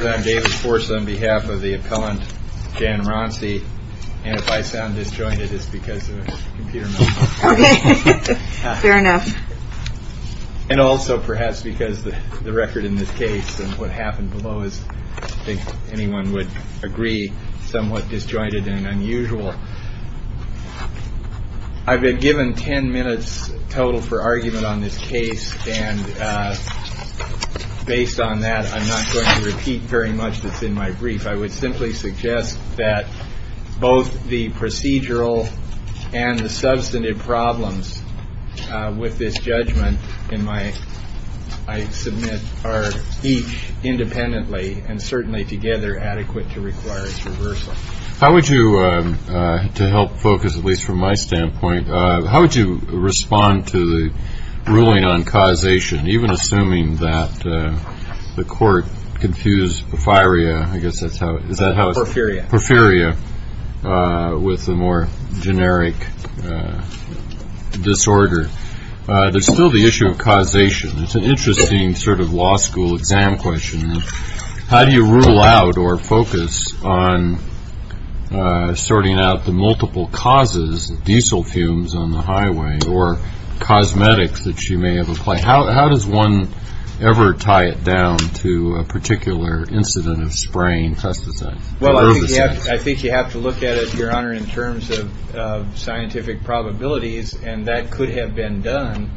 I'm David Forse on behalf of the appellant Jan Wroncy, and if I sound disjointed, it's because of a computer malfunction. OK. Fair enough. And also perhaps because the record in this case and what happened below is, I think anyone would agree, somewhat disjointed and unusual. I've been given 10 minutes total for argument on this case, and based on that, I'm not going to repeat very much that's in my brief. I would simply suggest that both the procedural and the substantive problems with this judgment in my, I submit, are each independently and certainly together adequate to require a reversal. How would you, to help focus at least from my standpoint, how would you respond to the ruling on causation, even assuming that the court confused porphyria with a more generic disorder? There's still the issue of causation. It's an interesting sort of law school exam question. How do you rule out or focus on sorting out the multiple causes, diesel fumes on the highway or cosmetics that you may have applied? How does one ever tie it down to a particular incident of spraying pesticide? I think you have to look at it, Your Honor, in terms of scientific probabilities. And that could have been done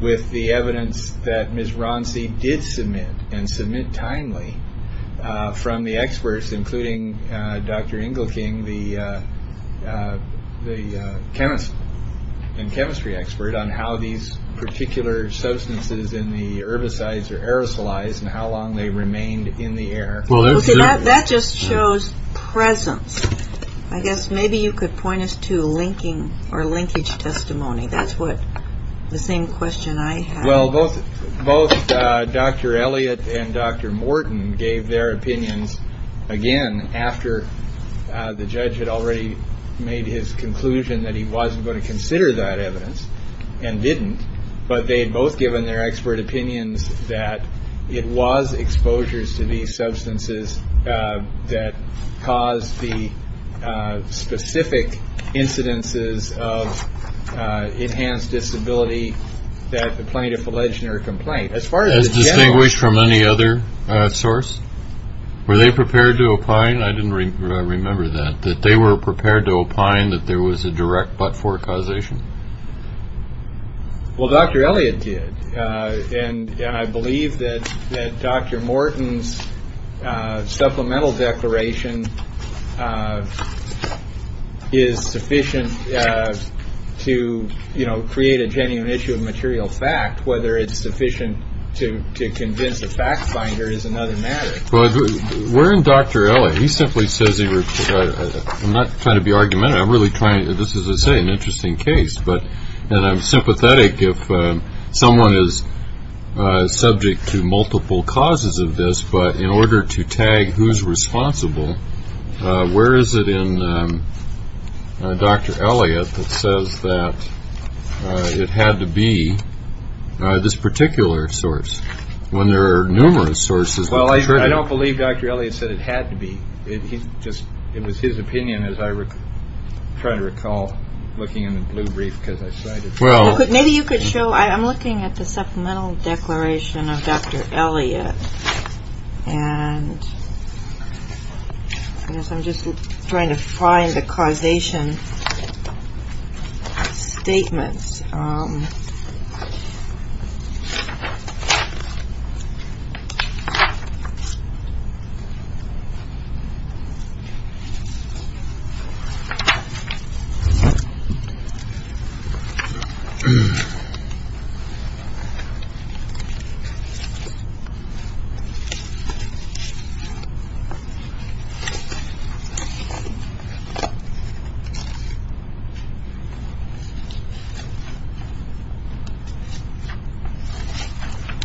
with the evidence that Ms. Ronsi did submit and submit timely from the experts, including Dr. Engelking, the chemist and chemistry expert on how these particular substances in the herbicides are aerosolized and how long they remained in the air. Well, that just shows presence. I guess maybe you could point us to linking or linkage testimony. That's what the same question. Well, both both Dr. Elliott and Dr. Morton gave their opinions again after the judge had already made his conclusion that he wasn't going to consider that evidence and didn't. But they had both given their expert opinions that it was exposures to these substances that caused the specific incidences of enhanced disability that the plaintiff alleged in her complaint. As far as distinguished from any other source, were they prepared to opine? I didn't remember that, that they were prepared to opine that there was a direct but for causation. Well, Dr. Elliott did. And I believe that Dr. Morton's supplemental declaration is sufficient to create a genuine issue of material fact, whether it's sufficient to convince a fact finder is another matter. We're in Dr. Elliott. He simply says he was not trying to be argumentative. I'm really trying to. This is an interesting case. But I'm sympathetic if someone is subject to multiple causes of this. But in order to tag who's responsible, where is it in Dr. Elliott that says that it had to be this particular source when there are numerous sources? Well, I don't believe Dr. Elliott said it had to be. It just it was his opinion. And as I try to recall, looking in the blue brief, because I said, well, maybe you could show I'm looking at the supplemental declaration of Dr. And I'm just trying to find the causation statements. So. So.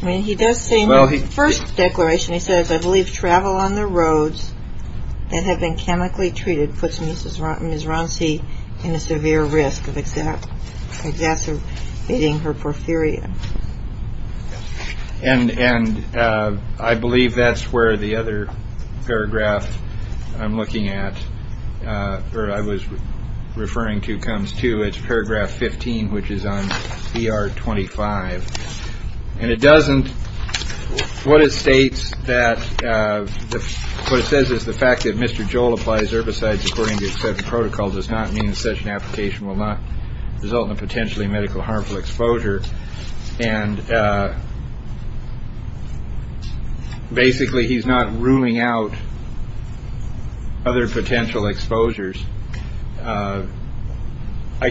When he does say, well, he first declaration, he says, I believe, travel on the roads. And I believe that's where the other paragraph I'm looking at or I was referring to comes to its paragraph 15, which is on the R-25. And it doesn't. What it states that what it says is the fact that Mr. Joel applies herbicides according to certain protocols does not mean such an application will not result in a potentially medical harmful exposure. And basically, he's not ruling out other potential exposures. I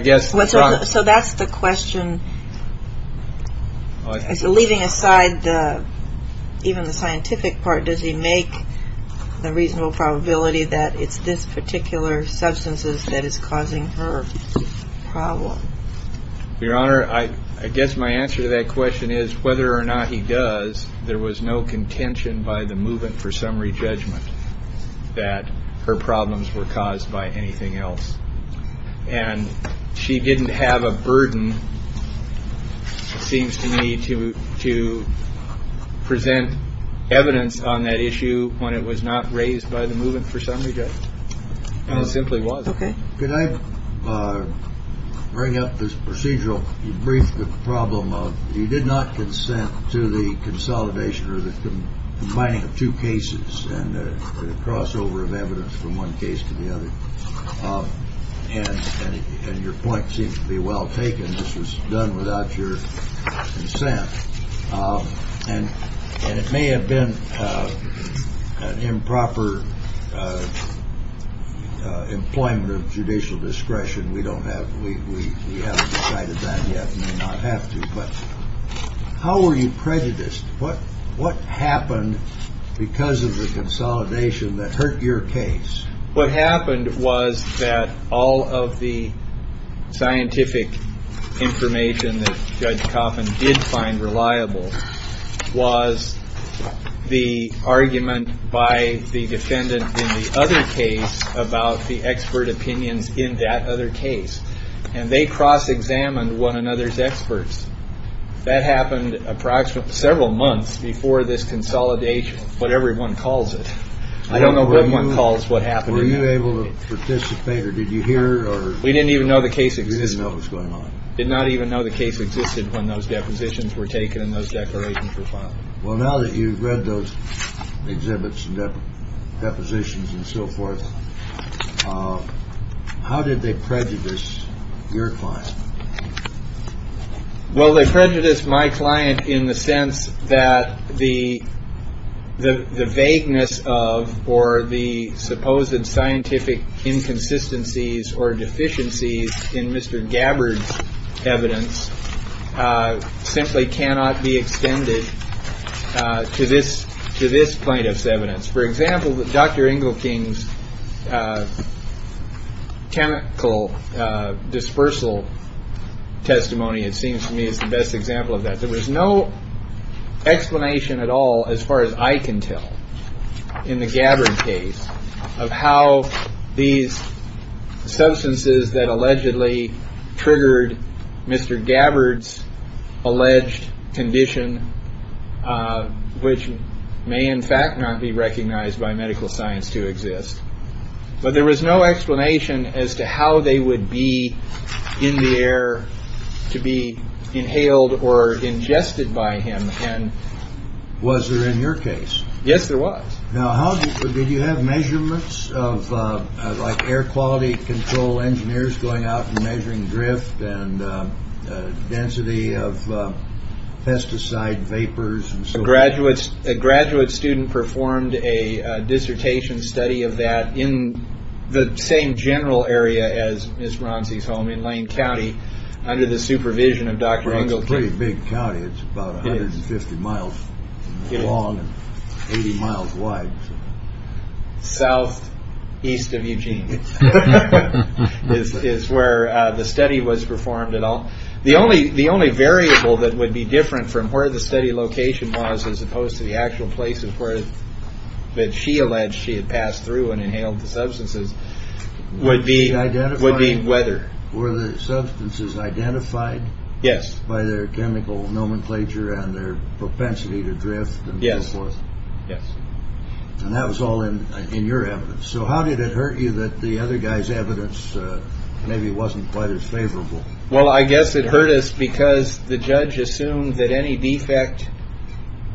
guess. So that's the question. Leaving aside even the scientific part, does he make the reasonable probability that it's this particular substances that is causing her problem? Your Honor, I guess my answer to that question is whether or not he does. There was no contention by the movement for summary judgment that her problems were caused by anything else. And she didn't have a burden. Seems to me to to present evidence on that issue when it was not raised by the movement for summary. And it simply was. OK. Could I bring up this procedural? You briefed the problem of you did not consent to the consolidation or the combining of two cases and the crossover of evidence from one case to the other. And your point seems to be well taken. This was done without your consent. And it may have been an improper employment of judicial discretion. We don't have. We haven't decided that yet. Not have to. But how were you prejudiced? What what happened because of the consolidation that hurt your case? What happened was that all of the scientific information that Judge Coffin did find reliable was the argument by the defendant in the other case about the expert opinions in that other case. And they cross examined one another's experts. That happened approximately several months before this consolidation. But everyone calls it. I don't know what one calls what happened. Were you able to participate or did you hear? Or we didn't even know the case. We didn't know what's going on. Did not even know the case existed when those depositions were taken and those declarations were filed. Well, now that you've read those exhibits and depositions and so forth, how did they prejudice your client? Well, they prejudice my client in the sense that the the vagueness of or the supposed scientific inconsistencies or deficiencies in Mr. Gabbard's evidence simply cannot be extended to this to this plaintiff's evidence. For example, Dr. Ingle King's chemical dispersal testimony, it seems to me is the best example of that. There was no explanation at all as far as I can tell in the Gabbard case of how these substances that allegedly triggered Mr. Gabbard's alleged condition, which may in fact not be recognized by medical science to exist. But there was no explanation as to how they would be in the air to be inhaled or ingested by him. And was there in your case? Yes, there was. Now, how did you have measurements of like air quality control engineers going out and measuring drift and density of pesticide vapors? Graduates, a graduate student performed a dissertation study of that in the same general area as Ms. Lane County under the supervision of Dr. Ingle pretty big county. It's about 50 miles long, 80 miles wide. South east of Eugene is where the study was performed at all. The only the only variable that would be different from where the study location was, as opposed to the actual places where she alleged she had passed through and inhaled the substances would be. Would be whether or the substances identified. Yes. By their chemical nomenclature and their propensity to drift. Yes. Yes. And that was all in your efforts. So how did it hurt you that the other guy's evidence maybe wasn't quite as favorable? Well, I guess it hurt us because the judge assumed that any defect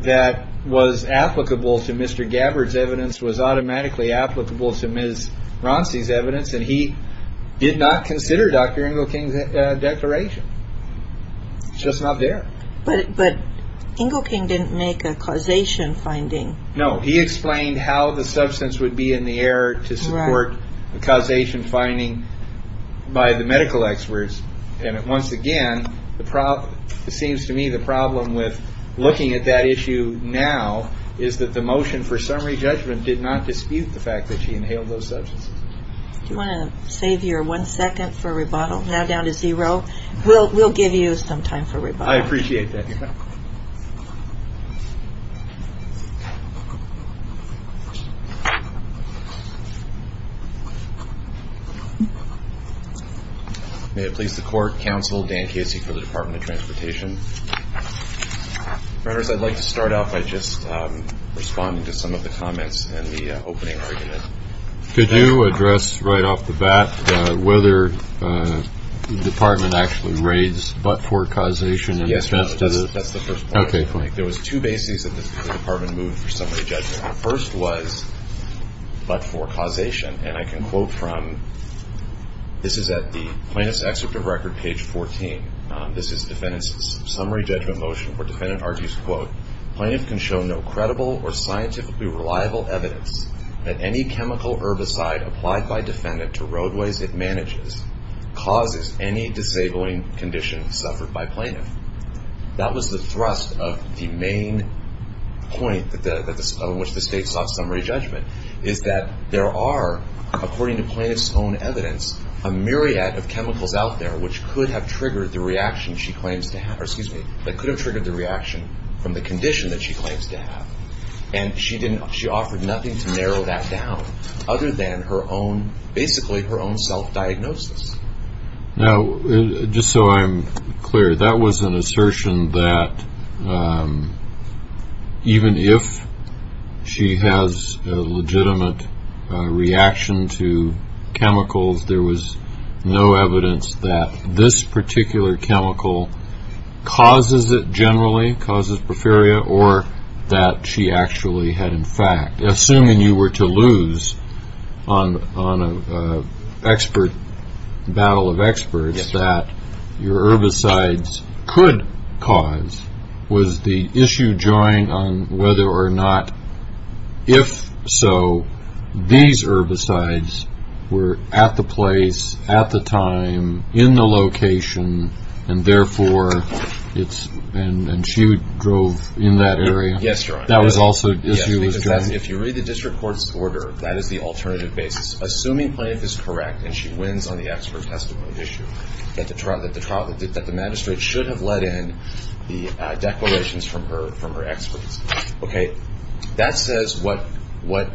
that was applicable to Mr. Gabbard's evidence was automatically applicable to Ms. Rossi's evidence, and he did not consider Dr. Ingle King's declaration. It's just not there. But but Ingle King didn't make a causation finding. No. He explained how the substance would be in the air to support the causation finding by the medical experts. And once again, the problem seems to me, the problem with looking at that issue now is that the motion for summary judgment did not dispute the fact that she inhaled those substances. Do you want to save your one second for rebuttal? Now down to zero. We'll we'll give you some time for rebuttal. I appreciate that. May it please the court. Counsel Dan Casey for the Department of Transportation. I'd like to start off by just responding to some of the comments and the opening argument. Could you address right off the bat whether the department actually raids but for causation? Yes. That's the first. There was two bases that the department moved for somebody. First was but for causation. And I can quote from. This is at the plaintiff's excerpt of record page 14. This is defendants. Summary judgment motion for defendant argues, quote, plaintiff can show no credible or scientifically reliable evidence that any chemical herbicide applied by defendant to roadways it manages causes any disabling condition suffered by plaintiff. That was the thrust of the main point of which the state sought summary judgment is that there are, according to plaintiff's own evidence, a myriad of chemicals out there which could have triggered the reaction she claims to have or excuse me, that could have triggered the reaction from the condition that she claims to have. And she didn't she offered nothing to narrow that down other than her own basically her own self diagnosis. Now, just so I'm clear, that was an assertion that even if she has a legitimate reaction to chemicals, there was no evidence that this particular chemical causes it generally causes preferia or that she actually had. In fact, assuming you were to lose on on an expert battle of experts that your herbicides could cause was the issue joined on whether or not. If so, these herbicides were at the place at the time in the location. And therefore, it's and she drove in that area. That was also if you read the district court's order, that is the alternative basis. Assuming plaintiff is correct and she wins on the expert testament issue that the trial that the trial that the magistrate should have let in the declarations from her from her experts. OK. That says what? What?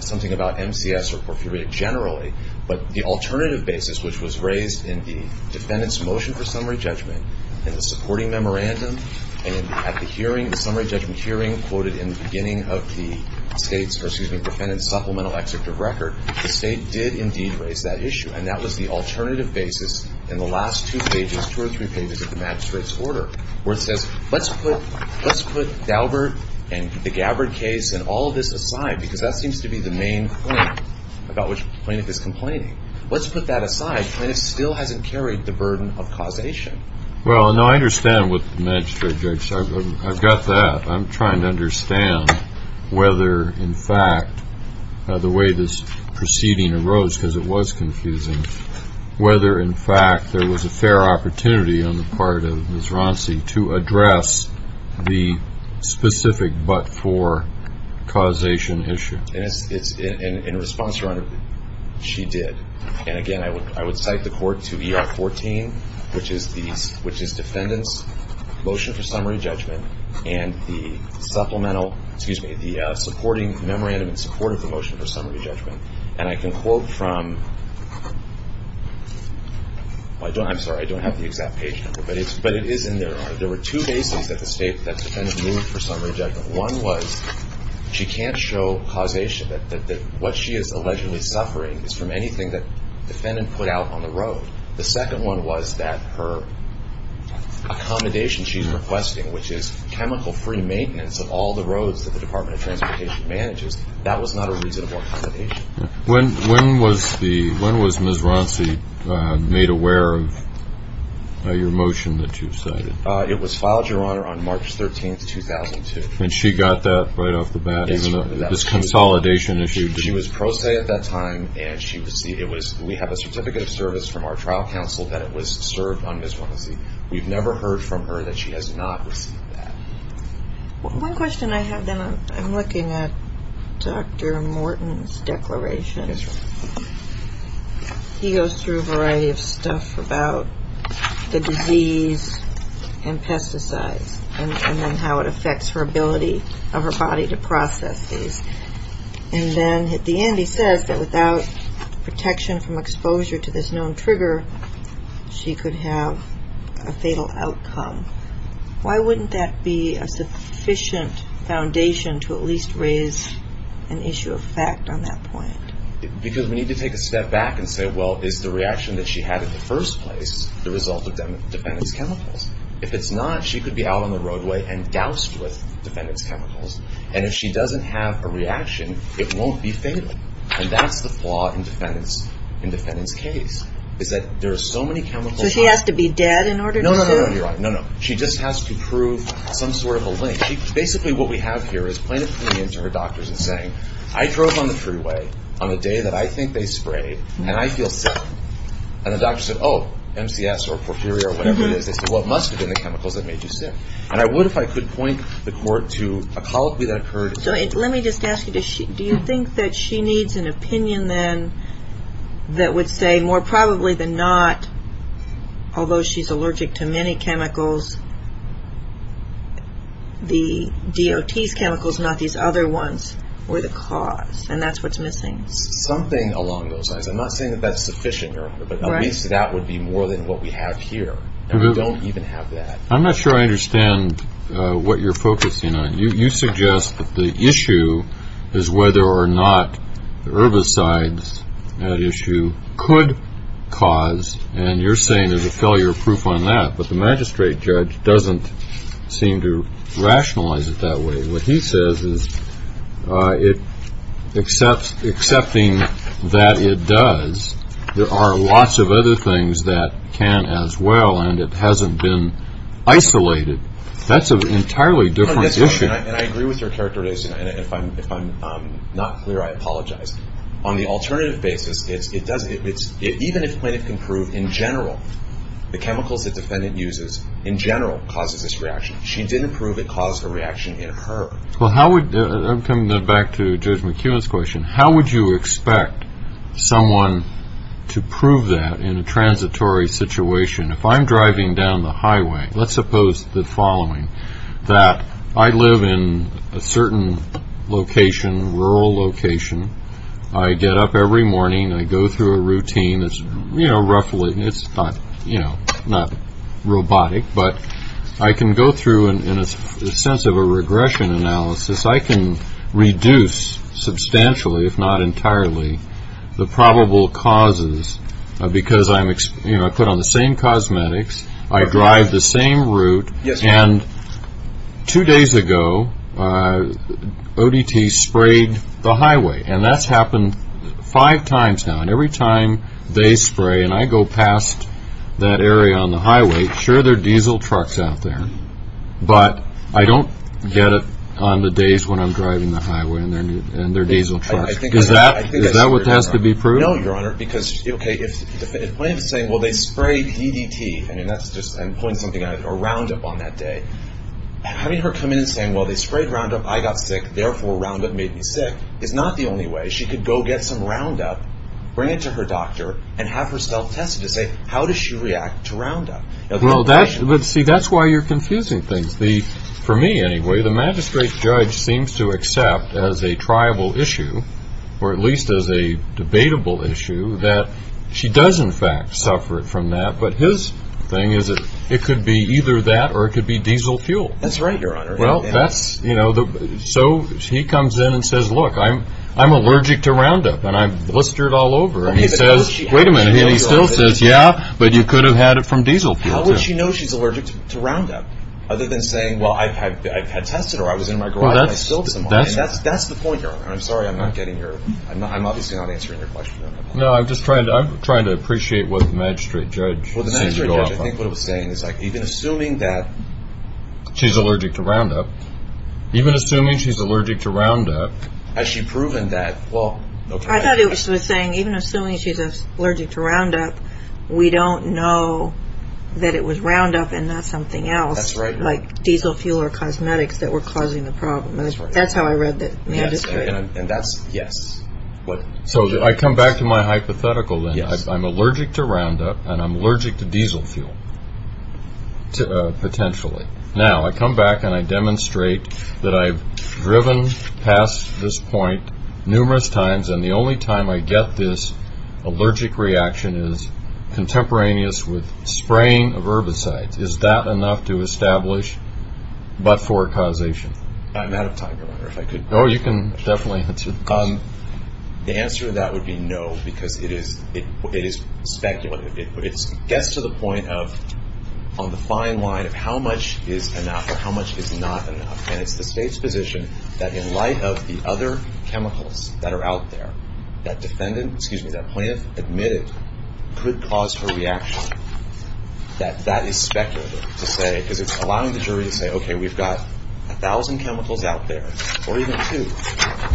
Something about M.C.S. or generally. But the alternative basis, which was raised in the defendant's motion for summary judgment in the supporting memorandum. And at the hearing, the summary judgment hearing quoted in the beginning of the state's or excuse me, defendant's supplemental excerpt of record, the state did indeed raise that issue. And that was the alternative basis in the last two pages, two or three pages of the magistrate's order where it says, let's put let's put Daubert and the Gabbard case and all of this aside, because that seems to be the main point about which plaintiff is complaining. Let's put that aside. And it still hasn't carried the burden of causation. Well, no, I understand what the magistrate judge said. I've got that. I'm trying to understand whether, in fact, the way this proceeding arose because it was confusing, whether, in fact, there was a fair opportunity on the part of Ms. Ronci to address the specific but-for causation issue. In response, Your Honor, she did. And, again, I would cite the court to ER 14, which is defendant's motion for summary judgment and the supplemental, excuse me, the supporting memorandum in support of the motion for summary judgment. And I can quote from, I'm sorry, I don't have the exact page number, but it is in there, Your Honor. There were two bases that the defendant moved for summary judgment. One was she can't show causation, that what she is allegedly suffering is from anything that the defendant put out on the road. The second one was that her accommodation she's requesting, which is chemical-free maintenance of all the roads that the Department of When was Ms. Ronci made aware of your motion that you cited? It was filed, Your Honor, on March 13, 2002. And she got that right off the bat? Yes, Your Honor. This consolidation issue? She was pro se at that time, and we have a certificate of service from our trial counsel that it was served on Ms. Ronci. We've never heard from her that she has not received that. One question I have, then, I'm looking at Dr. Morton's declaration. Yes, Your Honor. He goes through a variety of stuff about the disease and pesticides and then how it affects her ability of her body to process these. And then at the end he says that without protection from exposure to this known trigger, she could have a fatal outcome. Why wouldn't that be a sufficient foundation to at least raise an issue of fact on that point? Because we need to take a step back and say, well, is the reaction that she had in the first place the result of defendant's chemicals? If it's not, she could be out on the roadway and doused with defendant's chemicals. And if she doesn't have a reaction, it won't be fatal. And that's the flaw in defendant's case, is that there are so many chemicals. So she has to be dead in order to survive? No, no, no, Your Honor. No, no. She just has to prove some sort of a link. Basically what we have here is plain opinion to her doctors and saying, I drove on the freeway on the day that I think they sprayed and I feel sick. And the doctor said, oh, MCS or porphyria or whatever it is. They said, well, it must have been the chemicals that made you sick. And I would, if I could, point the court to a colic that occurred. So let me just ask you, do you think that she needs an opinion then that would say more probably than not, although she's allergic to many chemicals, the DOT's chemicals, not these other ones, were the cause? And that's what's missing. Something along those lines. I'm not saying that that's sufficient, Your Honor, but at least that would be more than what we have here. And we don't even have that. I'm not sure I understand what you're focusing on. You suggest that the issue is whether or not herbicides, that issue, could cause. And you're saying there's a failure proof on that. But the magistrate judge doesn't seem to rationalize it that way. What he says is, excepting that it does, there are lots of other things that can as well, and it hasn't been isolated. That's an entirely different issue. And I agree with your characterization. And if I'm not clear, I apologize. On the alternative basis, even if plaintiff can prove in general the chemicals the defendant uses in general causes this reaction, she didn't prove it caused a reaction in herb. Well, I'm coming back to Judge McKeown's question. How would you expect someone to prove that in a transitory situation? If I'm driving down the highway, let's suppose the following, that I live in a certain location, rural location. I get up every morning. I go through a routine. It's, you know, roughly, it's not, you know, not robotic. But I can go through, in a sense of a regression analysis, I can reduce substantially, if not entirely, the probable causes. Because I'm, you know, I put on the same cosmetics. I drive the same route. And two days ago, ODT sprayed the highway. And that's happened five times now. And every time they spray and I go past that area on the highway, sure, there are diesel trucks out there. But I don't get it on the days when I'm driving the highway and there are diesel trucks. Is that what has to be proved? I don't know, Your Honor, because, okay, if the plaintiff is saying, well, they sprayed DDT, and that's just pulling something out, or Roundup on that day. Having her come in and saying, well, they sprayed Roundup, I got sick, therefore Roundup made me sick, is not the only way. She could go get some Roundup, bring it to her doctor, and have herself tested to say, how does she react to Roundup? Well, see, that's why you're confusing things. For me, anyway, the magistrate judge seems to accept as a triable issue, or at least as a debatable issue, that she does, in fact, suffer from that. But his thing is it could be either that or it could be diesel fuel. That's right, Your Honor. Well, that's, you know, so he comes in and says, look, I'm allergic to Roundup. And I've blistered all over. And he says, wait a minute, and he still says, yeah, but you could have had it from diesel fuel, too. But she knows she's allergic to Roundup, other than saying, well, I had tested her, I was in my garage, and I spilled some on you. That's the point, Your Honor. I'm sorry I'm not getting your, I'm obviously not answering your question. No, I'm just trying to appreciate what the magistrate judge seems to go off on. Well, the magistrate judge, I think what he was saying is even assuming that she's allergic to Roundup. Even assuming she's allergic to Roundup. Has she proven that? I thought he was saying even assuming she's allergic to Roundup, we don't know that it was Roundup and not something else. That's right. Like diesel fuel or cosmetics that were causing the problem. That's how I read the magistrate. And that's, yes. So I come back to my hypothetical then. I'm allergic to Roundup, and I'm allergic to diesel fuel, potentially. Now, I come back and I demonstrate that I've driven past this point numerous times, and the only time I get this allergic reaction is contemporaneous with spraying of herbicides. Is that enough to establish but-for causation? I'm out of time, Your Honor, if I could. No, you can definitely answer the question. The answer to that would be no, because it is speculative. It gets to the point of on the fine line of how much is enough or how much is not enough, and it's the State's position that in light of the other chemicals that are out there, that defendant, excuse me, that plaintiff admitted could cause her reaction, that that is speculative to say, because it's allowing the jury to say, okay, we've got 1,000 chemicals out there or even two.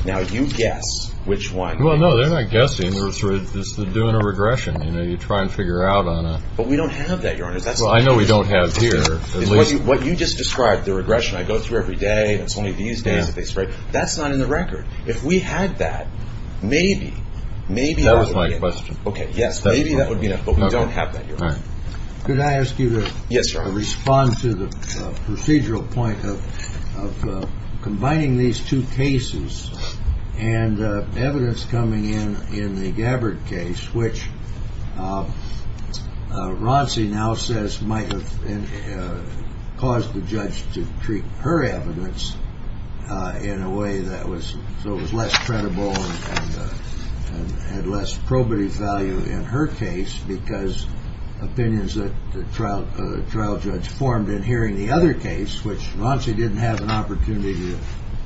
Now, you guess which one. Well, no, they're not guessing. They're sort of just doing a regression. You know, you try and figure out on it. But we don't have that, Your Honor. Well, I know we don't have here. What you just described, the regression I go through every day, it's only these days that they spray, that's not in the record. If we had that, maybe, maybe- That was my question. Okay, yes, maybe that would be enough, but we don't have that, Your Honor. Could I ask you to respond to the procedural point of combining these two cases and evidence coming in in the Gabbard case, which Ronci now says might have caused the judge to treat her evidence in a way that was, so it was less credible and had less probative value in her case because opinions that the trial judge formed in hearing the other case, which Ronci didn't have an opportunity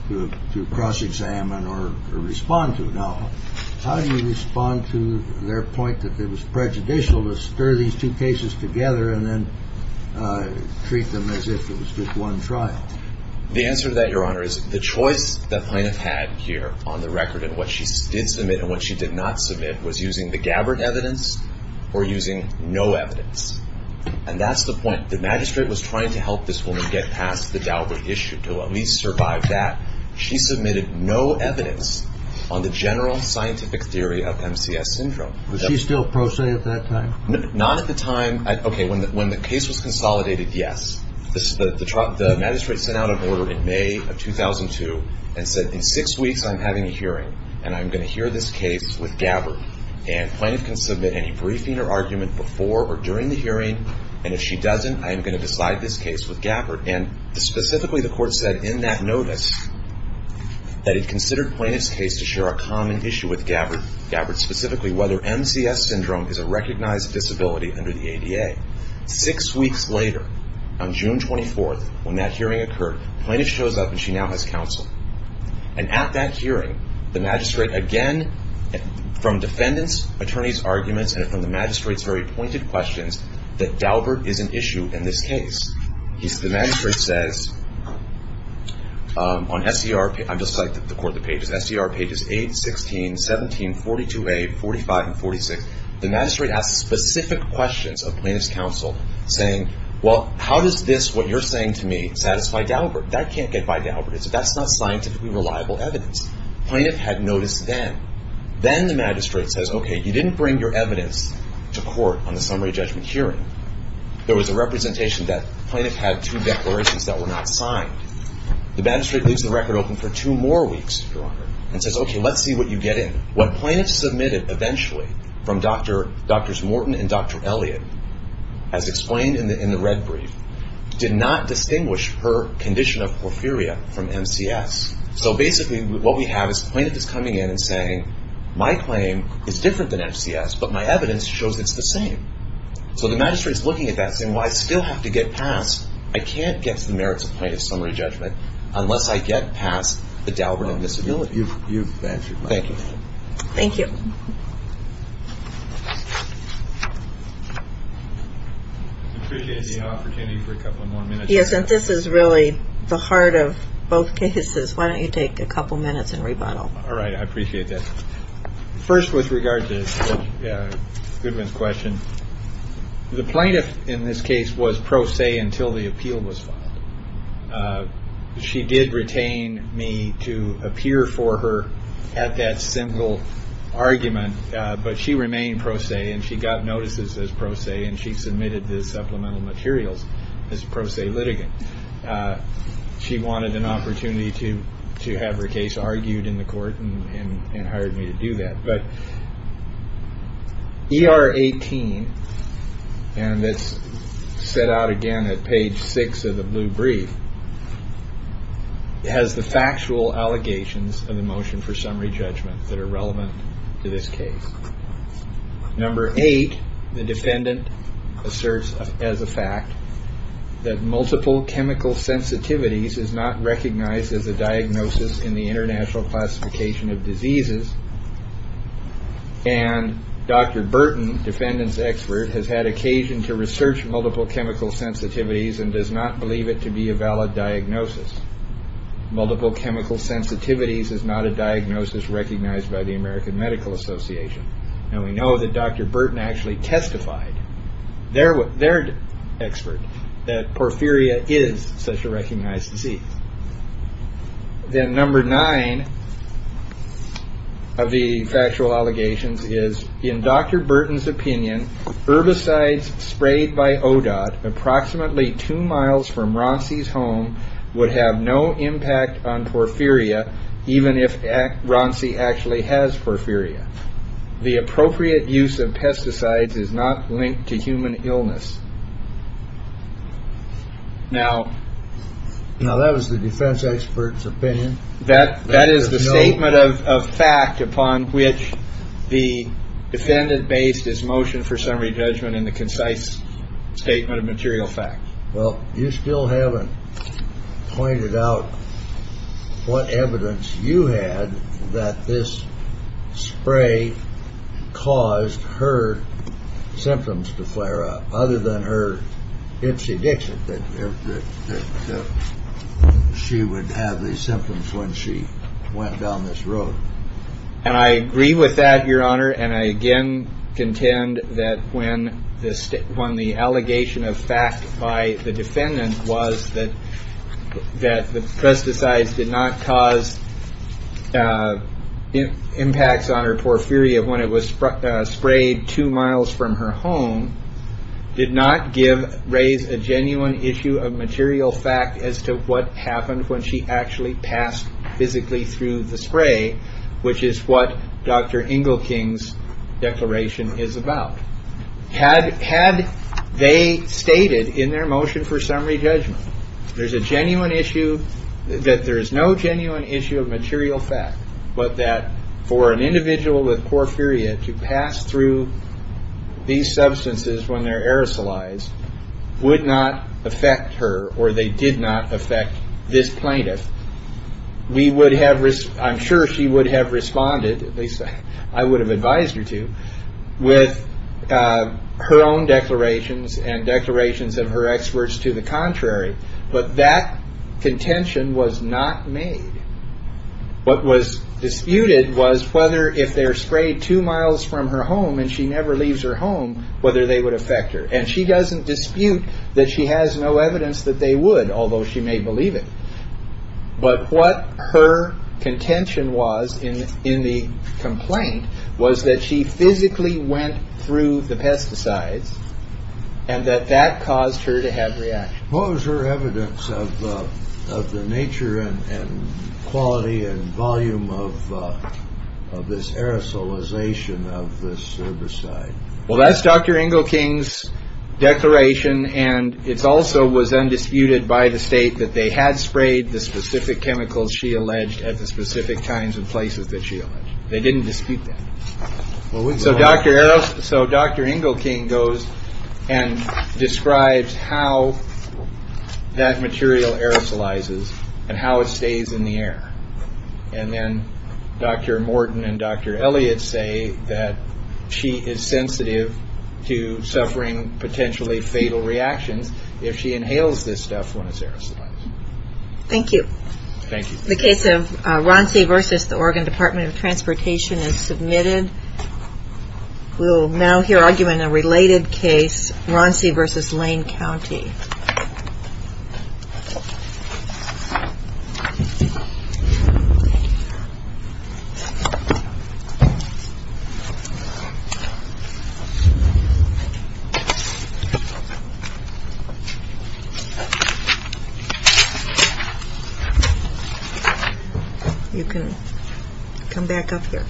to cross-examine or respond to. Now, how do you respond to their point that it was prejudicial to stir these two cases together and then treat them as if it was just one trial? The answer to that, Your Honor, is the choice that Plaintiff had here on the record in what she did submit and what she did not submit was using the Gabbard evidence or using no evidence. And that's the point. The magistrate was trying to help this woman get past the Gabbard issue to at least survive that. She submitted no evidence on the general scientific theory of MCS syndrome. Was she still pro se at that time? Not at the time. Okay, when the case was consolidated, yes. The magistrate sent out an order in May of 2002 and said, in six weeks I'm having a hearing and I'm going to hear this case with Gabbard and Plaintiff can submit any briefing or argument before or during the hearing and if she doesn't, I am going to decide this case with Gabbard. And specifically the court said in that notice that it considered Plaintiff's case to share a common issue with Gabbard, Gabbard specifically, whether MCS syndrome is a recognized disability under the ADA. Six weeks later, on June 24th, when that hearing occurred, Plaintiff shows up and she now has counsel. And at that hearing, the magistrate, again, from defendants' attorneys' arguments and from the magistrate's very pointed questions, that Gabbard is an issue in this case. The magistrate says, on SCR, I'm just citing the court, the pages, SCR pages 8, 16, 17, 42A, 45, and 46, the magistrate asks specific questions of Plaintiff's counsel, saying, well, how does this, what you're saying to me, satisfy Gabbard? That can't get by Gabbard. That's not scientifically reliable evidence. Plaintiff had notice then. Then the magistrate says, okay, you didn't bring your evidence to court on the summary judgment hearing. There was a representation that Plaintiff had two declarations that were not signed. The magistrate leaves the record open for two more weeks, Your Honor, and says, okay, let's see what you get in. What Plaintiff submitted eventually from Drs. Morton and Dr. Elliott, as explained in the red brief, did not distinguish her condition of porphyria from MCS. So basically what we have is Plaintiff is coming in and saying, my claim is different than MCS, but my evidence shows it's the same. So the magistrate is looking at that, saying, well, I still have to get past, I can't get to the merits of Plaintiff's summary judgment unless I get past the Dalbert on disability. You've answered my question. Thank you. I appreciate the opportunity for a couple more minutes. Yes, and this is really the heart of both cases. Why don't you take a couple minutes and rebuttal. All right. I appreciate that. First, with regard to Goodwin's question, the Plaintiff in this case was pro se until the appeal was filed. She did retain me to appear for her at that single hearing. But she remained pro se, and she got notices as pro se, and she submitted the supplemental materials as pro se litigant. She wanted an opportunity to have her case argued in the court and hired me to do that. But ER 18, and it's set out again at page six of the blue brief, has the factual allegations of the motion for summary judgment that are relevant to this case. Number eight, the defendant asserts as a fact that multiple chemical sensitivities is not recognized as a diagnosis in the International Classification of Diseases, and Dr. Burton, defendant's expert, has had occasion to research multiple chemical sensitivities and does not believe it to be a valid diagnosis. Multiple chemical sensitivities is not a diagnosis recognized by the American Medical Association. And we know that Dr. Burton actually testified, their expert, that porphyria is such a recognized disease. Then number nine of the factual allegations is, in Dr. Burton's opinion, herbicides sprayed by ODOT approximately two miles from Ronsi's home would have no impact on porphyria, even if Ronsi actually has porphyria. The appropriate use of pesticides is not linked to human illness. Now, that was the defense expert's opinion. That is the statement of fact upon which the defendant based his motion for summary judgment in the concise statement of material fact. Well, you still haven't pointed out what evidence you had that this spray caused her symptoms to flare up, other than her ipsy-dixit, that she would have these symptoms when she went down this road. And I agree with that, Your Honor. And I again contend that when the allegation of fact by the defendant was that the pesticides did not cause impacts on her porphyria when it was sprayed two miles from her home did not raise a genuine issue of material fact as to what happened when she actually passed physically through the spray, which is what Dr. Engelking's declaration is about. Had they stated in their motion for summary judgment that there is no genuine issue of material fact, but that for an individual with porphyria to pass through these substances when they're aerosolized would not affect her or they did not affect this plaintiff, I'm sure she would have responded, at least I would have advised her to, with her own declarations and declarations of her experts to the contrary. But that contention was not made. What was disputed was whether if they're sprayed two miles from her home and she never leaves her home, whether they would affect her. And she doesn't dispute that she has no evidence that they would, although she may believe it. But what her contention was in the complaint was that she physically went through the pesticides and that that caused her to have reactions. What was her evidence of the nature and quality and volume of this aerosolization of this herbicide? Well, that's Dr. Engelking's declaration. And it's also was undisputed by the state that they had sprayed the specific chemicals she alleged at the specific times and places that she they didn't dispute that. So Dr. Engelking goes and describes how that material aerosolizes and how it stays in the air. And then Dr. Morton and Dr. Elliott say that she is sensitive to suffering potentially fatal reactions if she inhales this stuff when it's aerosolized. Thank you. Thank you. The case of Ronci versus the Oregon Department of Transportation is submitted. We will now hear argument in a related case, Ronci versus Lane County. You can come back up here.